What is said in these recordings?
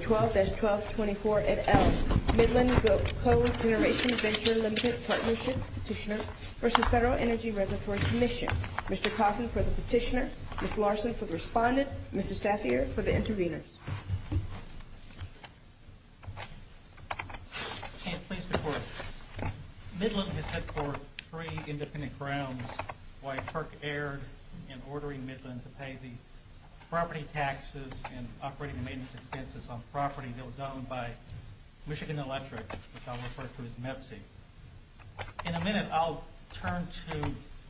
12-24 Midland Cogeneration Venture Limited Partnership Petitioner v. FEDERAL ENERGY RESERVATORY COMMISSION Mr. Coffin for the petitioner, Ms. Larson for the respondent, Mr. Staffier for the intervenors. Midland has set forth three independent grounds why FERC erred in ordering Midland to pay the property taxes and operating maintenance expenses on property that was owned by Michigan Electric, which I'll refer to as METC. In a minute, I'll turn to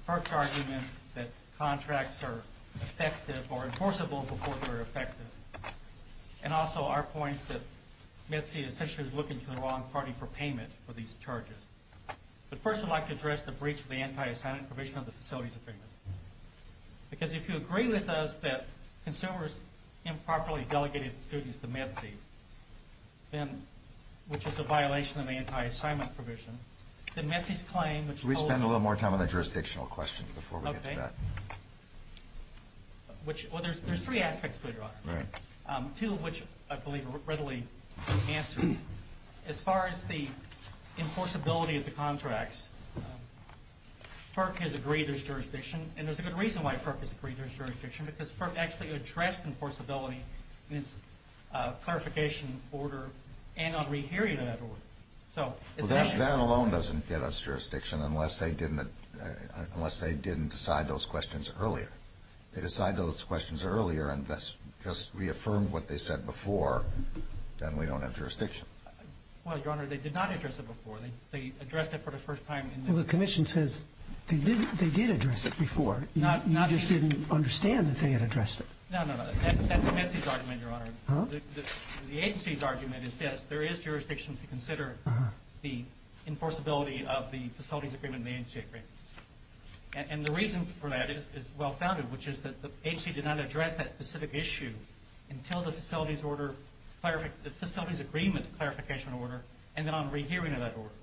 FERC's argument that METC is looking to the wrong party for payment for these charges. But first I'd like to address the breach of the anti-assignment provision of the facilities agreement. Because if you agree with us that consumers improperly delegated the students to METC, which is a violation of the anti-assignment provision, then METC's claim, which holds- We spend a little more time on the jurisdictional question before we get to that. Well, there's three aspects to it, Your Honor. Two of which I believe are readily answered. As far as the enforceability of the contracts, FERC has agreed there's jurisdiction, and there's a good reason why FERC has agreed there's jurisdiction, because FERC actually addressed enforceability in its clarification order and on rehearing that order. So it's an issue- Well, that alone doesn't get us jurisdiction unless they didn't decide those questions earlier. They decide those questions earlier and thus just reaffirmed what they said before, then we don't have jurisdiction. Well, Your Honor, they did not address it before. They addressed it for the first time in the- Well, the Commission says they did address it before. Not- You just didn't understand that they had addressed it. No, no, no. That's METC's argument, Your Honor. Huh? The agency's argument is yes, there is jurisdiction to consider the enforceability of the facilities agreement and the agency agreement. And the reason for that is well founded, which is that the agency did not address that specific issue until the facilities order- the facilities agreement clarification order and then on rehearing of that order,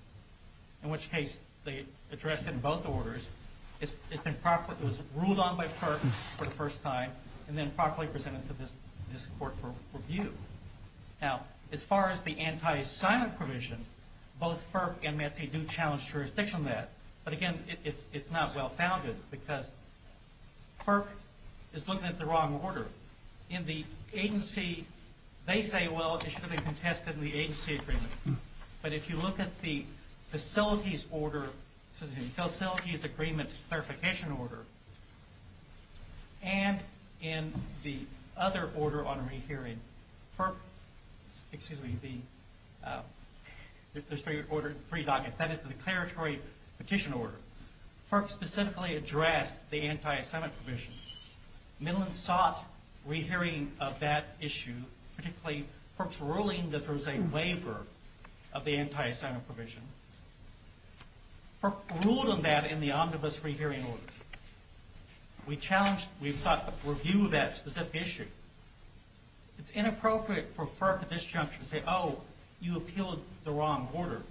in which case they addressed it in both orders. It's been ruled on by FERC for the first time and then properly presented to this court for review. Now, as far as the anti-assignment provision, both FERC and METC do challenge jurisdiction on that. But again, it's not well founded because FERC is looking at the wrong order. In the agency, they say, well, it should have been tested in the agency agreement. But if you look at the facilities order, facilities agreement clarification order, and in the other order on rehearing, FERC- excuse me, the- there's three orders, three dockets. That is the declaratory petition order. FERC specifically addressed the anti-assignment provision. Midland sought rehearing of that issue, particularly FERC's ruling that there was an anti-assignment provision. FERC ruled on that in the omnibus rehearing order. We challenged- we sought review of that specific issue. It's inappropriate for FERC at this juncture to say, oh, you appealed the wrong order.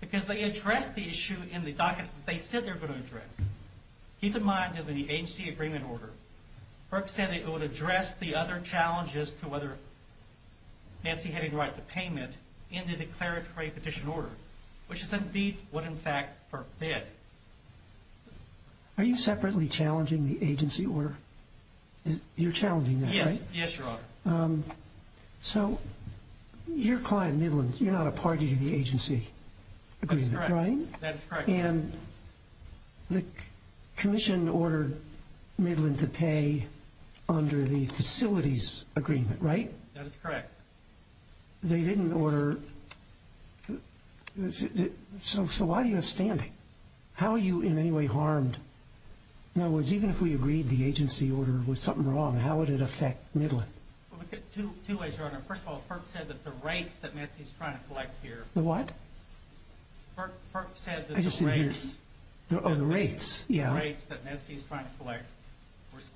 Because they addressed the issue in the docket that they said they were going to address. Keep in mind that in the agency agreement order, FERC said it would address the other challenges to whether Nancy had the right to payment in the declaratory petition order, which is indeed what, in fact, FERC did. Are you separately challenging the agency order? You're challenging that, right? Yes, Your Honor. So your client, Midland, you're not a party to the agency agreement, right? That is correct. And the commission ordered Midland to pay under the facilities agreement, right? That is correct. They didn't order- so why do you have standing? How are you in any way harmed? In other words, even if we agreed the agency order was something wrong, how would it affect Midland? Well, we could- two ways, Your Honor. First of all, FERC said that the rates that Nancy's trying to collect here- The what? FERC said that the rates- Oh, the rates, yeah. The rates that Nancy's trying to collect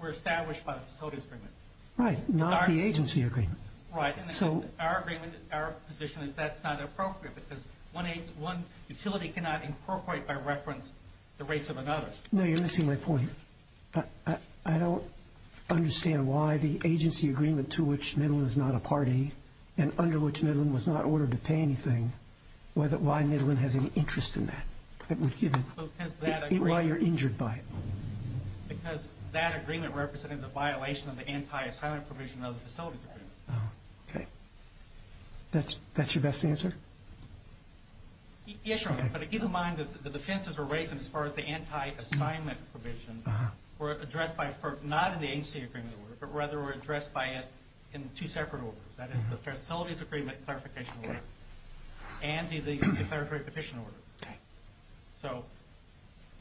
were established by the facilities agreement. Right, not the agency agreement. Right, and our agreement, our position is that's not appropriate because one utility cannot incorporate by reference the rates of another. No, you're missing my point. I don't understand why the agency agreement to which Midland is not a party and under which Midland was not ordered to pay anything, why Midland has any interest in that. That would give it- Because that agreement- Why you're injured by it. Because that agreement represented a violation of the anti-assignment provision of the facilities agreement. Oh, okay. That's your best answer? Yes, Your Honor, but keep in mind that the defenses were raised as far as the anti-assignment provision were addressed by FERC not in the agency agreement order, but rather were addressed by it in two separate orders. That is, the facilities agreement clarification order and the declaratory petition order. So,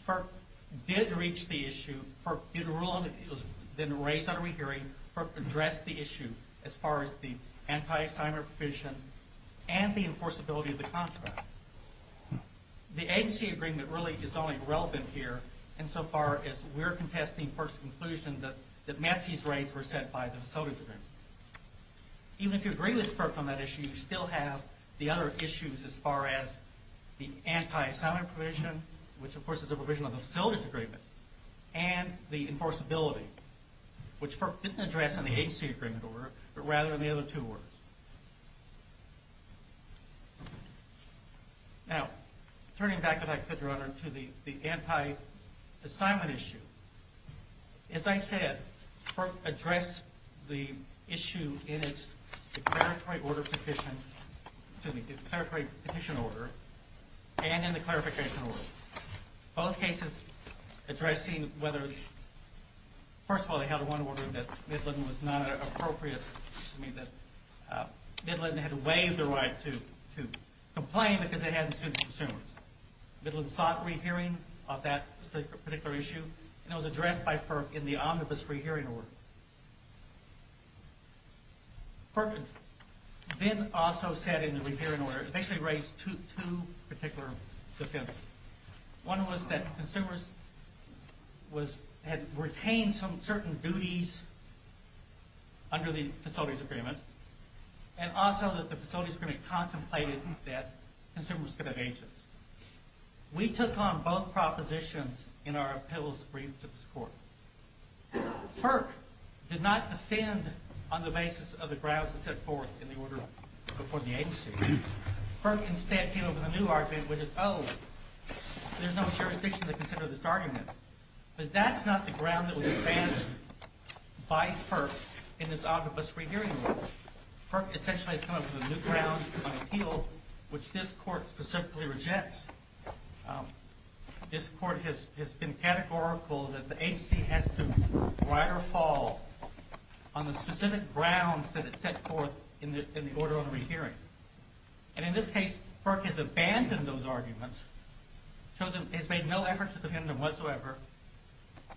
FERC did reach the issue, FERC did rule on it, it was then raised under re-hearing, FERC addressed the issue as far as the anti-assignment provision and the enforceability of the contract. The agency agreement really is only relevant here insofar as we're contesting FERC's conclusion that Nancy's rates were set by the facilities agreement. Even if you agree with FERC on that issue, you still have the other issues as far as the anti-assignment provision, which of course is a provision of the facilities agreement, and the enforceability, which FERC didn't address in the agency agreement order, but rather in the other two orders. Now, turning back, if I could, Your Honor, to the anti-assignment issue. As I said, FERC addressed the issue in its declaratory petition order and in the clarification order. Both cases addressing whether, first of all, they had one order that Midland was not appropriate, that Midland had waived the right to complain because it hadn't sued the consumers. Midland sought re-hearing of that particular issue, and it was addressed by FERC in the omnibus re-hearing order. FERC then also said in the re-hearing order, basically raised two particular defenses. One was that consumers had retained some certain duties under the facilities agreement, and also that the facilities agreement contemplated that consumers could We took on both propositions in our appeals brief to this Court. FERC did not defend on the basis of the grounds it set forth in the order before the agency. FERC instead came up with a new argument, which is, oh, there's no jurisdiction to consider this argument. But that's not the ground that was advanced by FERC in this omnibus re-hearing order. FERC essentially has come up with a new ground in the appeal, which this Court specifically rejects. This Court has been categorical that the agency has to ride or fall on the specific grounds that it set forth in the order on the re-hearing. And in this case, FERC has abandoned those arguments, has made no effort to defend them whatsoever,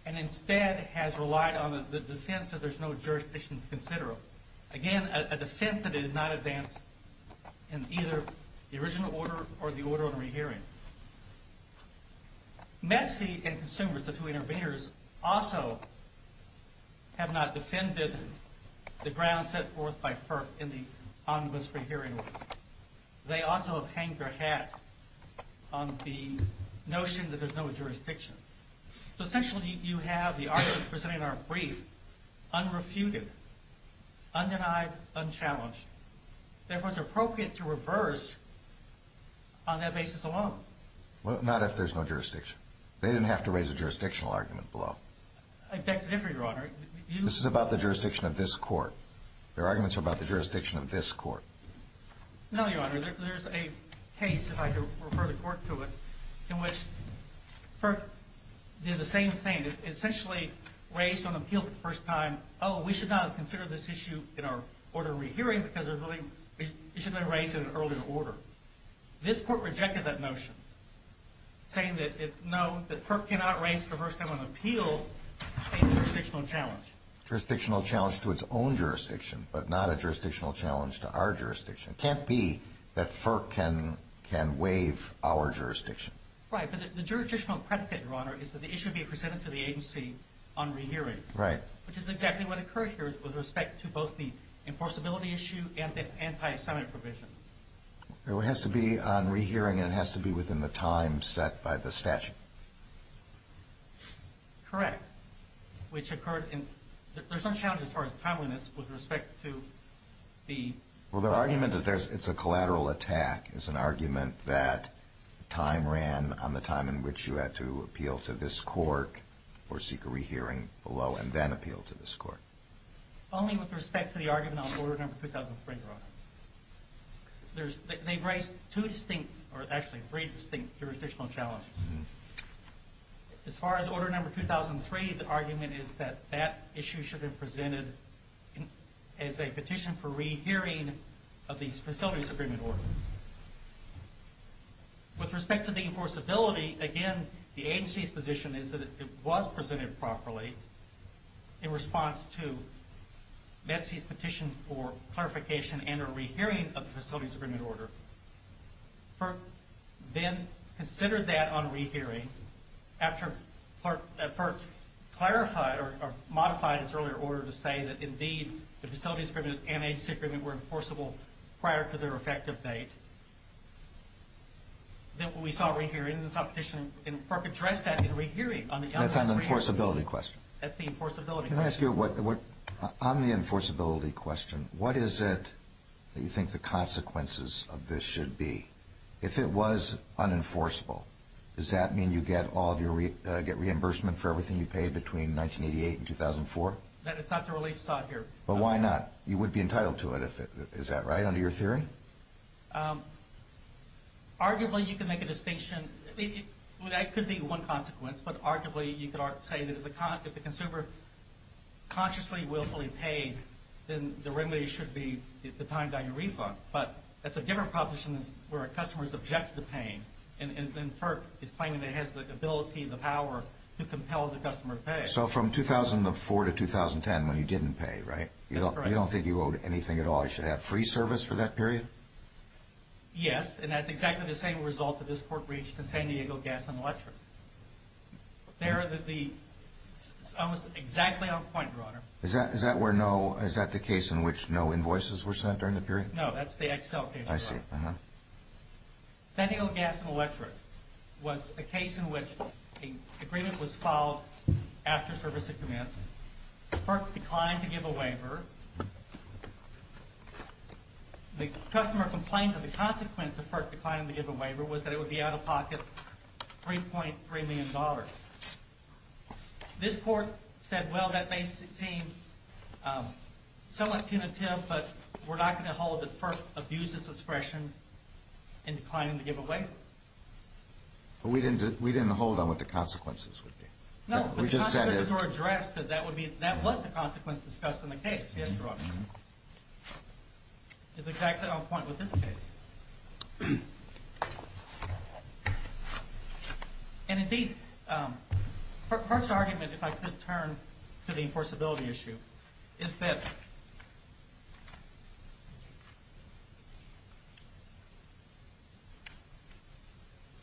and instead has relied on the defense that there's no jurisdiction to consider them. Again, a defense that it did not advance in either the original order or the order on the re-hearing. METC and consumers, the two interveners, also have not defended the grounds set forth by FERC in the omnibus re-hearing order. They also have hanged their hat on the notion that there's no jurisdiction. So this Court has been categorical that the agency has to ride or fall on the specific grounds that it set forth in the order on the re-hearing. And in this case, FERC has abandoned those arguments, has made no effort to defend them whatsoever. Again, a defense that it did not advance in either the original order or the order on the re-hearing. Oh, we should not consider this issue in our order on re-hearing because it should have been raised in an earlier order. This Court rejected that notion, saying that no, that FERC cannot raise for the first time on appeal a jurisdictional challenge. Jurisdictional challenge to its own jurisdiction, but not a jurisdictional challenge to our jurisdiction. It can't be that FERC can waive our jurisdiction. Right, but the jurisdictional predicate, Your Honor, is that the issue be presented to the agency on re-hearing. Right. Which is exactly what occurred here with respect to both the enforceability issue and the anti-Semite provision. It has to be on re-hearing and it has to be within the time set by the statute. Correct. Which occurred in, there's no challenge as far as timeliness with respect to the... Well, the argument that it's a collateral attack is an argument that time ran on the time in which you had to appeal to this Court or seek a re-hearing below and then appeal to this Court. Only with respect to the argument on order number 2003, Your Honor. They've raised two distinct, or actually three distinct jurisdictional challenges. As far as order number 2003, the argument is that that issue should have presented as a petition for re-hearing of the facilities agreement order. With respect to the enforceability, again, the agency's position is that it was presented properly in response to Metcie's petition for clarification and or re-hearing of the facilities agreement order. FERC then considered that on re-hearing after FERC clarified or modified its earlier order to say that indeed the facilities agreement and agency agreement were enforceable prior to their effective date. Then we saw re-hearing in this petition and FERC addressed that in re-hearing on the elements of re-hearing. That's an enforceability question. That's the enforceability question. Can I ask you, on the enforceability question, what is it that you think the consequences of this should be? If it was unenforceable, does that mean you get reimbursement for everything you paid between 1988 and 2004? That is not the relief sought here. But why not? You would be entitled to it, is that right, under your theory? Arguably, you can make a distinction. That could be one consequence. But arguably, you could say that if the consumer consciously, willfully paid, then the remedy should be the time down your refund. But that's a different proposition where a customer is object to paying. And FERC is claiming it has the ability, the power to compel the customer to pay. So from 2004 to 2010, when you didn't pay, right? That's correct. You don't think you owed anything at all. You should have free service for that period? Yes. And that's exactly the same result that this Court reached in San Diego Gas and Electric. It's almost exactly on point, Your Honor. Is that the case in which no invoices were sent during the period? No. That's the Excel case, Your Honor. I see. San Diego Gas and Electric was a case in which an agreement was filed after service had commenced. FERC declined to give a waiver. The customer complained that the consequence of FERC declining to give a waiver was that it would be out of pocket $3.3 million. This Court said, well, that may seem somewhat punitive, but we're not going to hold that FERC abused its discretion in declining to give a waiver. But we didn't hold on what the consequences would be. No, but the consequences were addressed. That was the consequence discussed in the case yesterday. It's exactly on point with this case. And, indeed, FERC's argument, if I could turn to the enforceability issue, is that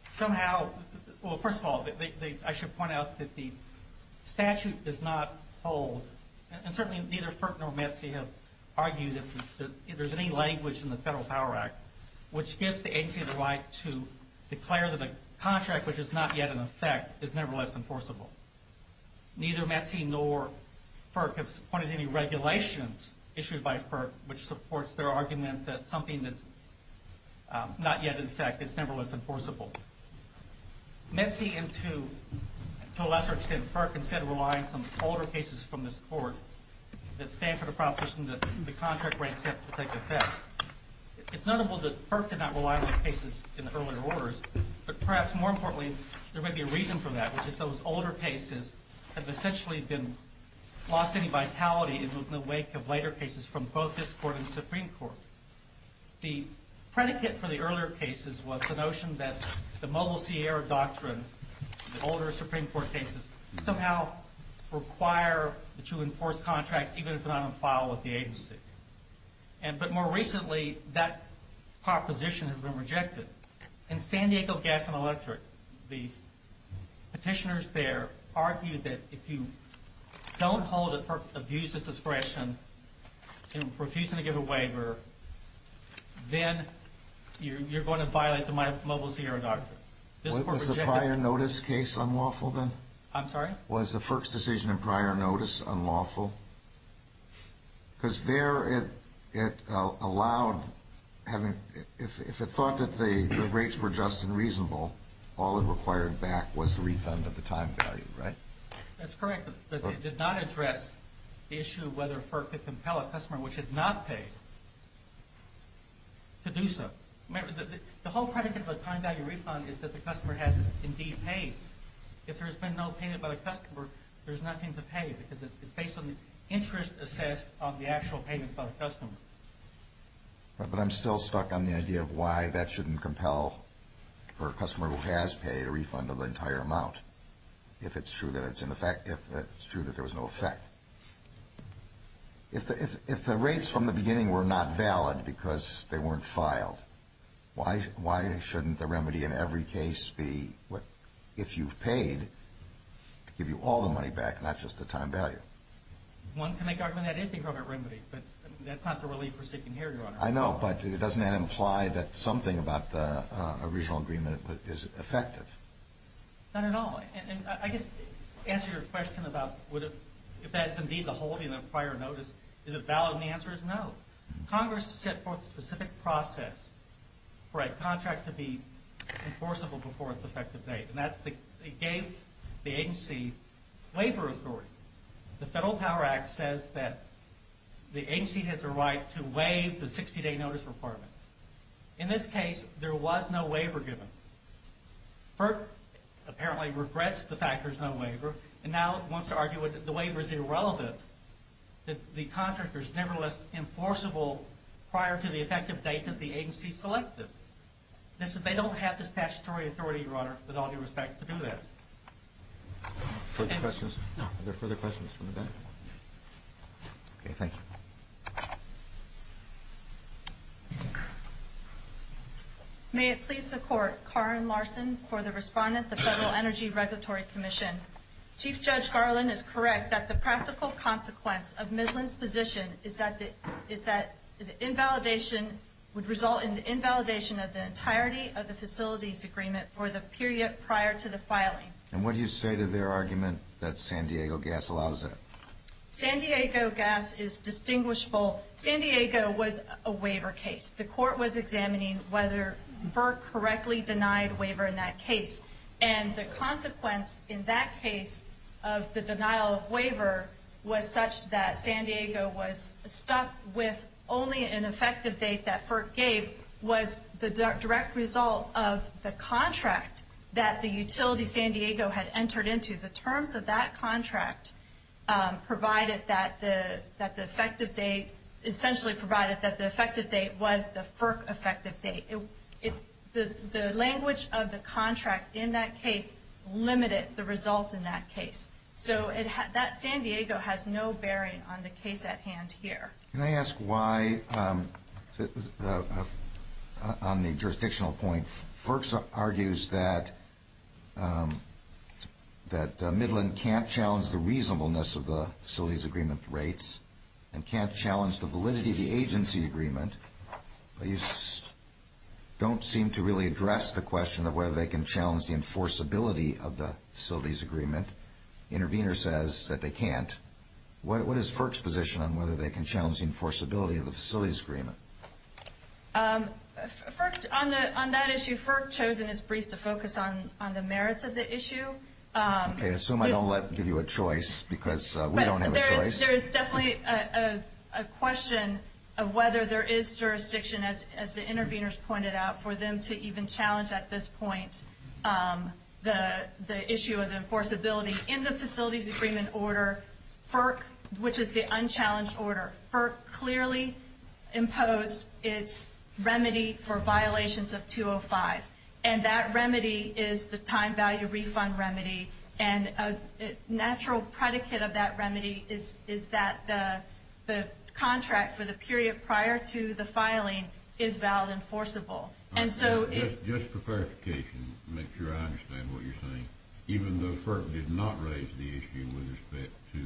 somehow, well, first of all, I should point out that the statute does not hold, and certainly neither FERC nor METC have argued that there's any language in the Federal Power Act which gives the agency the right to declare that a contract which is not yet in effect is nevertheless enforceable. Neither METC nor FERC have pointed to any regulations issued by FERC which supports their argument that something that's not yet in effect is nevertheless enforceable. METC and, to a lesser extent, FERC, instead, rely on some older cases from this Court that stand for the proposition that the contract grants have to take effect. It's notable that FERC did not rely on these cases in the earlier orders, but perhaps, more importantly, there may be a reason for that, which is those older cases have essentially been lost any vitality in the wake of later cases from both this Court and the Supreme Court. The predicate for the earlier cases was the notion that the Mobile Sierra Doctrine, the older Supreme Court cases, somehow require to enforce contracts even if they're not on file with the agency. But more recently, that proposition has been rejected. In San Diego Gas and Electric, the petitioners there argued that if you don't hold it for abuse of discretion and refusing to give a waiver, then you're going to violate the Mobile Sierra Doctrine. Was the prior notice case unlawful then? I'm sorry? Was the FERC's decision in prior notice unlawful? Because there it allowed having, if it thought that the rates were just and reasonable, all it required back was the refund of the time value, right? That's correct. But it did not address the issue of whether FERC could compel a customer which had not paid to do so. The whole predicate of a time value refund is that the customer has indeed paid. If there's been no payment by the customer, there's nothing to pay because it's based on the interest assessed on the actual payments by the customer. But I'm still stuck on the idea of why that shouldn't compel for a customer who has paid a refund of the entire amount if it's true that it's in effect, if it's true that there was no effect. If the rates from the beginning were not valid because they weren't filed, why shouldn't the remedy in every case be if you've paid to give you all the time value? One can make argument that is the appropriate remedy, but that's not the relief we're seeking here, Your Honor. I know, but doesn't that imply that something about the original agreement is effective? Not at all. And I guess to answer your question about if that's indeed the holding of prior notice, is it valid? And the answer is no. Congress set forth a specific process for a contract to be enforceable before its effective date. And that's they gave the agency waiver authority. The Federal Power Act says that the agency has a right to waive the 60-day notice requirement. In this case, there was no waiver given. FERC apparently regrets the fact there's no waiver, and now wants to argue that the waiver is irrelevant, that the contract is nevertheless enforceable prior to the effective date that the agency selected. They don't have the statutory authority, Your Honor, with all due respect to do that. Are there further questions from the back? Okay, thank you. May it please the Court, Karen Larson for the respondent of the Federal Energy Regulatory Commission. Chief Judge Garland is correct that the practical consequence of Midland's position is that the invalidation would result in the invalidation of the entirety of the facilities agreement for the period prior to the filing. And what do you say to their argument that San Diego Gas allows that? San Diego Gas is distinguishable. San Diego was a waiver case. The Court was examining whether FERC correctly denied waiver in that case. And the consequence in that case of the denial of waiver was such that San Diego was stuck with only an effective date that FERC gave was the direct result of the contract that the utility San Diego had entered into. The terms of that contract provided that the effective date, essentially provided that the effective date was the FERC effective date. The language of the contract in that case limited the result in that case. So that San Diego has no bearing on the case at hand here. Can I ask why, on the jurisdictional point, FERC argues that Midland can't challenge the reasonableness of the facilities agreement rates and can't challenge the validity of the agency agreement, but you don't seem to really address the question of whether they can challenge the enforceability of the facilities agreement. The intervener says that they can't. What is FERC's position on whether they can challenge the enforceability of the facilities agreement? On that issue, FERC chosen as brief to focus on the merits of the issue. Okay. I assume I don't give you a choice because we don't have a choice. There is definitely a question of whether there is jurisdiction, as the interveners pointed out, for them to even challenge at this point the issue of the enforceability. In the facilities agreement order, FERC, which is the unchallenged order, FERC clearly imposed its remedy for violations of 205. And that remedy is the time value refund remedy. And a natural predicate of that remedy is that the contract for the period prior to the filing is valid enforceable. Just for clarification, make sure I understand what you're saying. Even though FERC did not raise the issue with respect to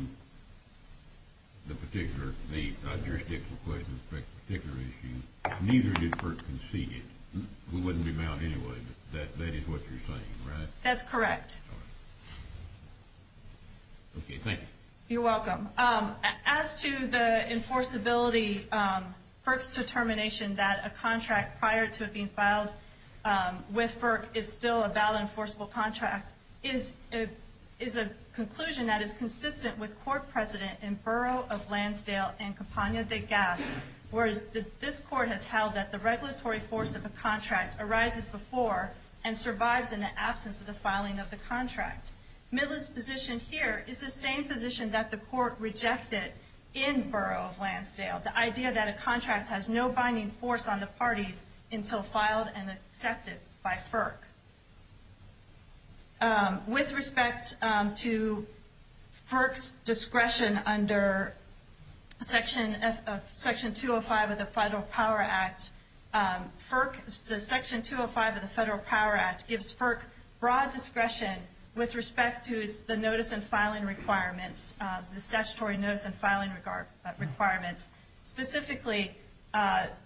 the jurisdiction question with respect to the particular issue, neither did FERC concede it. We wouldn't be bound anyway, but that is what you're saying, right? That's correct. Okay, thank you. You're welcome. As to the enforceability, FERC's determination that a contract prior to it being filed with FERC is still a valid enforceable contract is a conclusion that is consistent with court precedent in Borough of Lansdale and Campagna de Gas, where this court has held that the regulatory force of a contract arises before and survives in the absence of the filing of the contract. Millett's position here is the same position that the court rejected in Borough of Lansdale, the idea that a contract has no binding force on the parties until filed and accepted by FERC. With respect to FERC's discretion under Section 205 of the Federal Power Act, the Section 205 of the Federal Power Act gives FERC broad discretion with respect to the notice and filing requirements, the statutory notice and filing requirements. Specifically,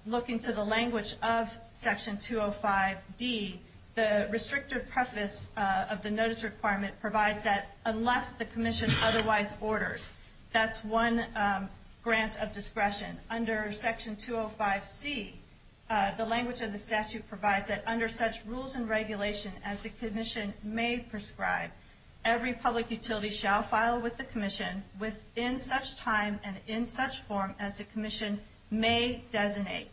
looking to the language of Section 205D, the restrictive preface of the notice requirement provides that unless the commission otherwise orders, that's one grant of discretion. Under Section 205C, the language of the statute provides that under such rules and regulation as the commission may prescribe, every public utility shall file with the commission within such time and in such form as the commission may designate.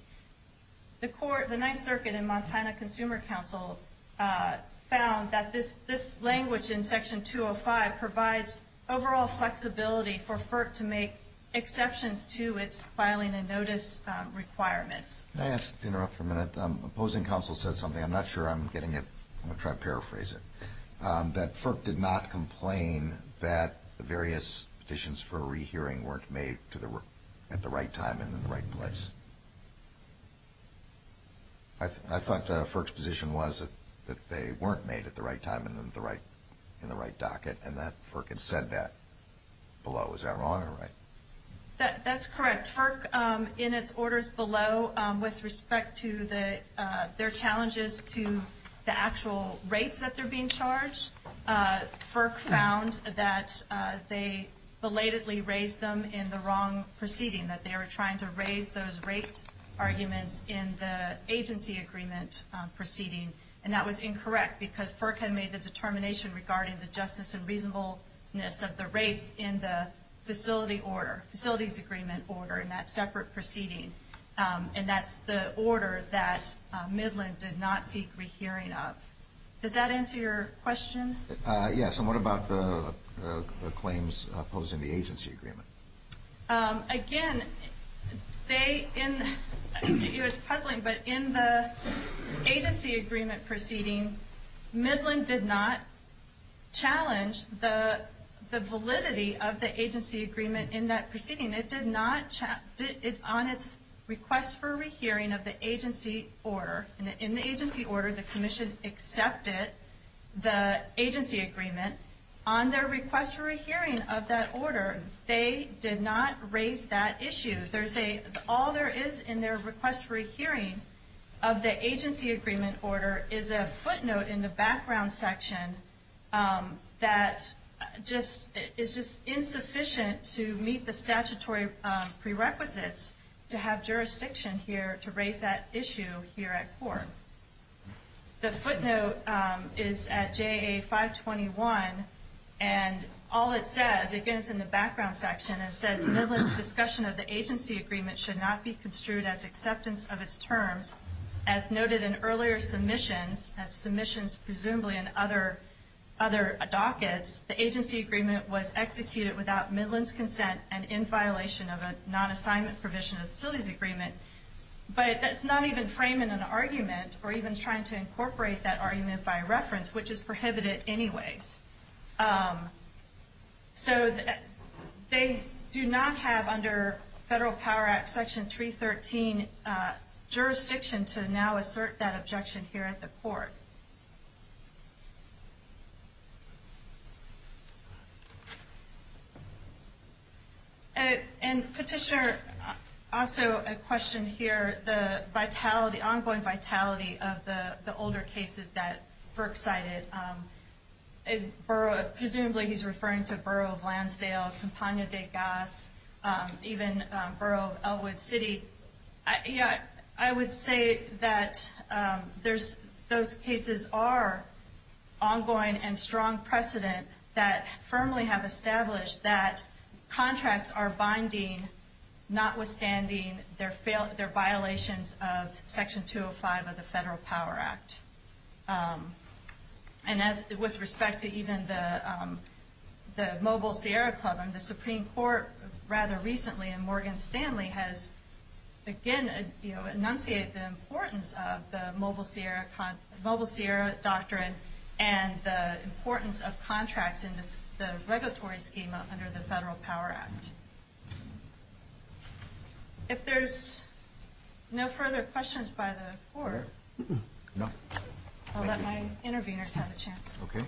The Ninth Circuit and Montana Consumer Council found that this language in Section 205 provides overall flexibility for FERC to make exceptions to its filing and notice requirements. Can I ask you to interrupt for a minute? Opposing counsel said something. I'm not sure I'm getting it. I'm going to try to paraphrase it, that FERC did not complain that the various petitions for a rehearing weren't made at the right time and in the right place. I thought FERC's position was that they weren't made at the right time and in the right docket, and that FERC had said that below. Was that wrong or right? That's correct. FERC, in its orders below, with respect to their challenges to the actual rates that they're being charged, FERC found that they belatedly raised them in the wrong proceeding, that they were trying to raise those rate arguments in the agency agreement proceeding, and that was incorrect because FERC had made the determination regarding the justice and reasonableness of the rates in the facility order, facilities agreement order in that separate proceeding, and that's the order that Midland did not seek rehearing of. Does that answer your question? Yes, and what about the claims opposing the agency agreement? Again, it's puzzling, but in the agency agreement proceeding, Midland did not challenge the validity of the agency agreement in that proceeding. It did not, on its request for rehearing of the agency order, in the agency order the commission accepted the agency agreement. On their request for a hearing of that order, they did not raise that issue. All there is in their request for a hearing of the agency agreement order is a footnote in the background section that is just insufficient to meet the statutory prerequisites to have jurisdiction here to raise that issue here at court. The footnote is at JA 521, and all it says, again it's in the background section, it says Midland's discussion of the agency agreement should not be construed as acceptance of its terms. As noted in earlier submissions, as submissions presumably in other dockets, the agency agreement was executed without Midland's consent and in violation of a non-assignment provision of the facilities agreement, but that's not even framing an argument or even trying to incorporate that argument by reference, which is prohibited anyways. So they do not have under Federal Power Act Section 313 jurisdiction to now assert that objection here at the court. And Petitioner, also a question here, the vitality, ongoing vitality of the older cases that FERC cited. Presumably he's referring to Borough of Lansdale, Campagna de Gas, even Borough of Elwood City. I would say that those cases are ongoing and strong precedent that firmly have established that contracts are binding, notwithstanding their violations of Section 205 of the Federal Power Act. And with respect to even the Mobile Sierra Club, the Supreme Court rather recently in Morgan Stanley has, again, enunciated the importance of the Mobile Sierra Doctrine and the importance of contracts in the regulatory schema under the Federal Power Act. No. I'll let my intervenors have a chance. Okay.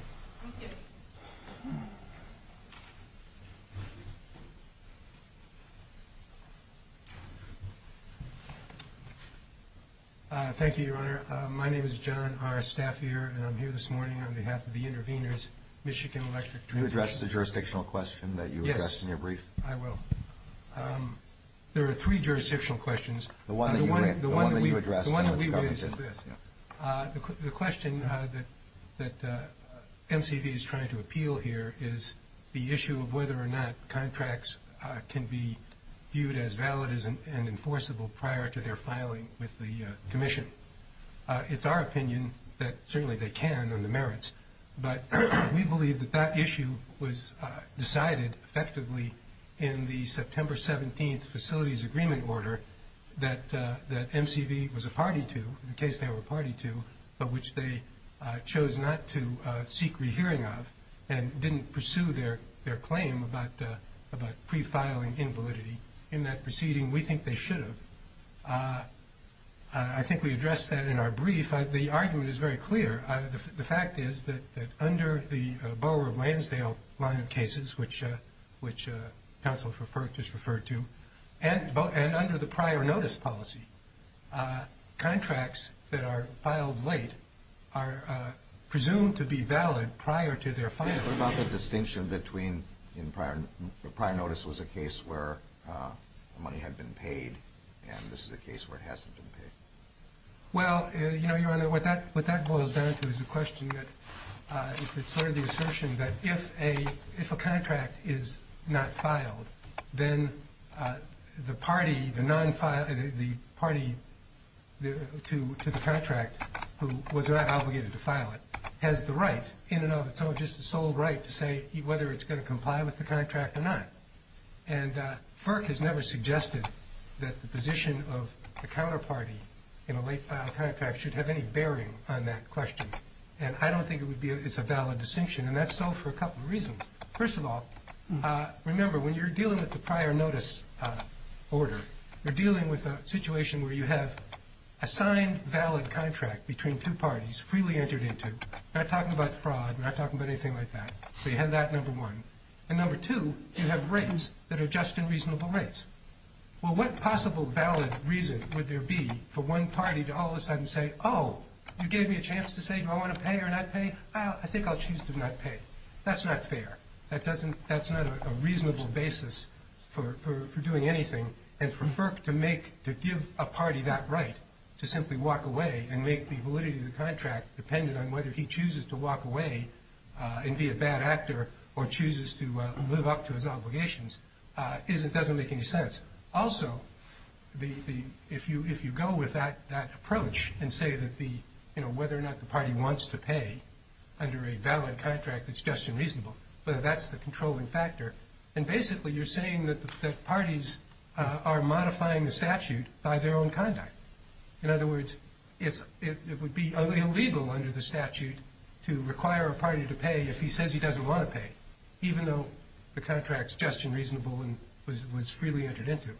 Thank you. Thank you, Your Honor. My name is John R. Staffier, and I'm here this morning on behalf of the intervenors, Michigan Electric. Can you address the jurisdictional question that you addressed in your brief? Yes, I will. There are three jurisdictional questions. The one that you addressed. The one that we raised is this. The question that MCV is trying to appeal here is the issue of whether or not contracts can be viewed as valid and enforceable prior to their filing with the Commission. It's our opinion that certainly they can on the merits, but we believe that that issue was decided effectively in the September 17th that MCV was a party to, in case they were a party to, but which they chose not to seek rehearing of and didn't pursue their claim about pre-filing invalidity. In that proceeding, we think they should have. I think we addressed that in our brief. The argument is very clear. The fact is that under the Borough of Lansdale line of cases, which counsel just referred to, and under the prior notice policy, contracts that are filed late are presumed to be valid prior to their filing. What about the distinction between prior notice was a case where money had been paid and this is a case where it hasn't been paid? Well, Your Honor, what that boils down to is the question that it's sort of the assertion that if a contract is not filed, then the party to the contract who was not obligated to file it has the right in and of itself just the sole right to say whether it's going to comply with the contract or not. And FERC has never suggested that the position of the counterparty in a late-filed contract should have any bearing on that question. And I don't think it's a valid distinction. And that's so for a couple of reasons. First of all, remember, when you're dealing with the prior notice order, you're dealing with a situation where you have a signed valid contract between two parties freely entered into, not talking about fraud, not talking about anything like that. So you have that, number one. And number two, you have rates that are just and reasonable rates. Well, what possible valid reason would there be for one party to all of a sudden say, oh, you gave me a chance to say do I want to pay or not pay? I think I'll choose to not pay. That's not fair. That's not a reasonable basis for doing anything. And for FERC to give a party that right to simply walk away and make the validity of the contract dependent on whether he chooses to walk away and be a bad actor or chooses to live up to his obligations doesn't make any sense. Also, if you go with that approach and say whether or not the party wants to pay under a valid contract that's just and reasonable, whether that's the controlling factor, then basically you're saying that parties are modifying the statute by their own conduct. In other words, it would be illegal under the statute to require a party to pay even though the contract's just and reasonable and was freely entered into.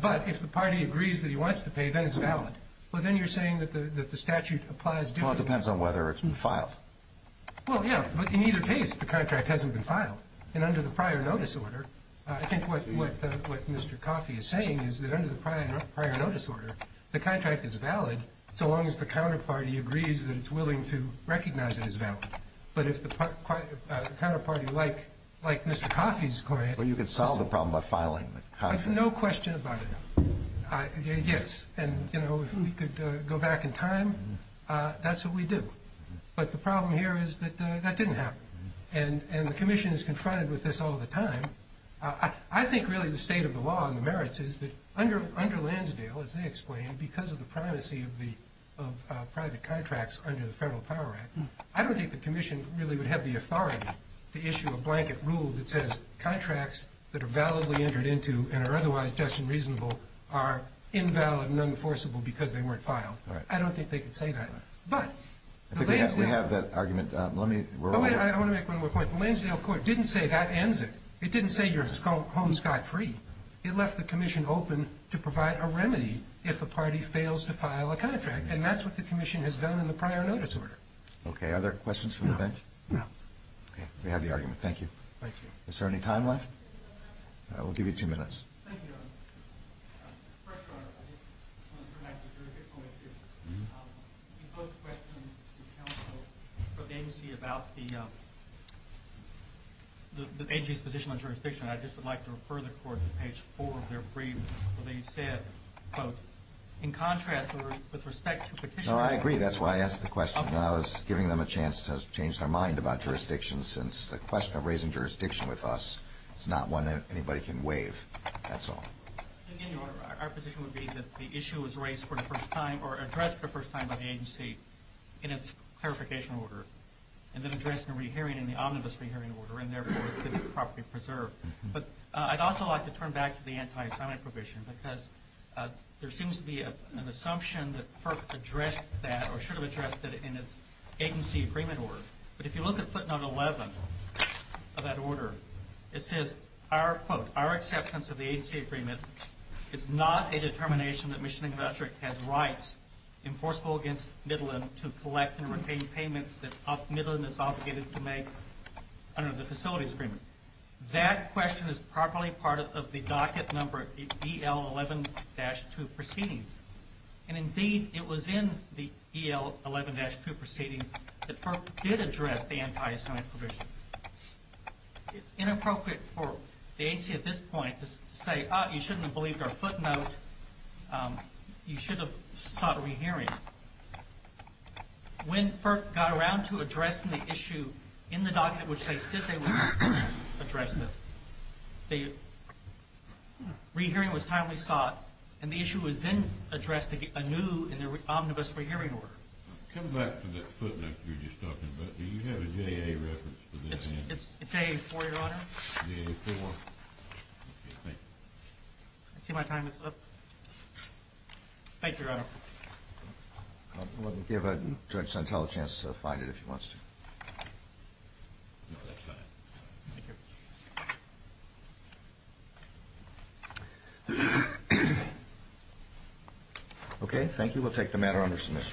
But if the party agrees that he wants to pay, then it's valid. Well, then you're saying that the statute applies differently. Well, it depends on whether it's been filed. Well, yeah, but in either case, the contract hasn't been filed. And under the prior notice order, I think what Mr. Coffey is saying is that under the prior notice order, the contract is valid so long as the counterparty agrees that it's willing to recognize it as valid. But if the counterparty, like Mr. Coffey's client, Well, you could solve the problem by filing the contract. I have no question about it, yes. And, you know, if we could go back in time, that's what we do. But the problem here is that that didn't happen. And the commission is confronted with this all the time. I think really the state of the law and the merits is that under Lansdale, as they explain, because of the privacy of private contracts under the Federal Power Act, I don't think the commission really would have the authority to issue a blanket rule that says contracts that are validly entered into and are otherwise just and reasonable are invalid and unenforceable because they weren't filed. I don't think they could say that. I think we have that argument. I want to make one more point. The Lansdale court didn't say that ends it. It didn't say your home's got free. It left the commission open to provide a remedy if a party fails to file a contract. And that's what the commission has done in the prior notice order. Okay. Are there questions from the bench? No. No. Okay. We have the argument. Thank you. Thank you. Is there any time left? We'll give you two minutes. Thank you, Your Honor. First, Your Honor, I just wanted to make a very quick point here. You both questioned the counsel for the agency about the agency's position on jurisdiction. I just would like to refer the court to page 4 of their brief where they said, quote, No, I agree. That's why I asked the question. I was giving them a chance to change their mind about jurisdiction since the question of raising jurisdiction with us is not one that anybody can waive. That's all. Our position would be that the issue was raised for the first time or addressed for the first time by the agency in its clarification order and then addressed in a re-hearing in the omnibus re-hearing order and, therefore, could be properly preserved. But I'd also like to turn back to the anti-assignment provision because there seems to be an assumption that FERC addressed that or should have addressed it in its agency agreement order. But if you look at footnote 11 of that order, it says, quote, Our acceptance of the agency agreement is not a determination that Michigan Intellectual Property has rights enforceable against Midland to collect and retain payments that Midland is obligated to make under the facilities agreement. That question is probably part of the docket number EL11-2 proceedings. And, indeed, it was in the EL11-2 proceedings that FERC did address the anti-assignment provision. It's inappropriate for the agency at this point to say, oh, you shouldn't have believed our footnote. When FERC got around to addressing the issue in the docket in which they said they would address it, the re-hearing was timely sought, and the issue was then addressed anew in their omnibus re-hearing order. Come back to that footnote you were just talking about. Do you have a JA reference to that? It's JA-4, Your Honor. JA-4. Okay, thank you. I see my time is up. Thank you, Your Honor. We'll give Judge Santel a chance to find it if he wants to. No, that's fine. Thank you. Okay, thank you. We'll take the matter under submission.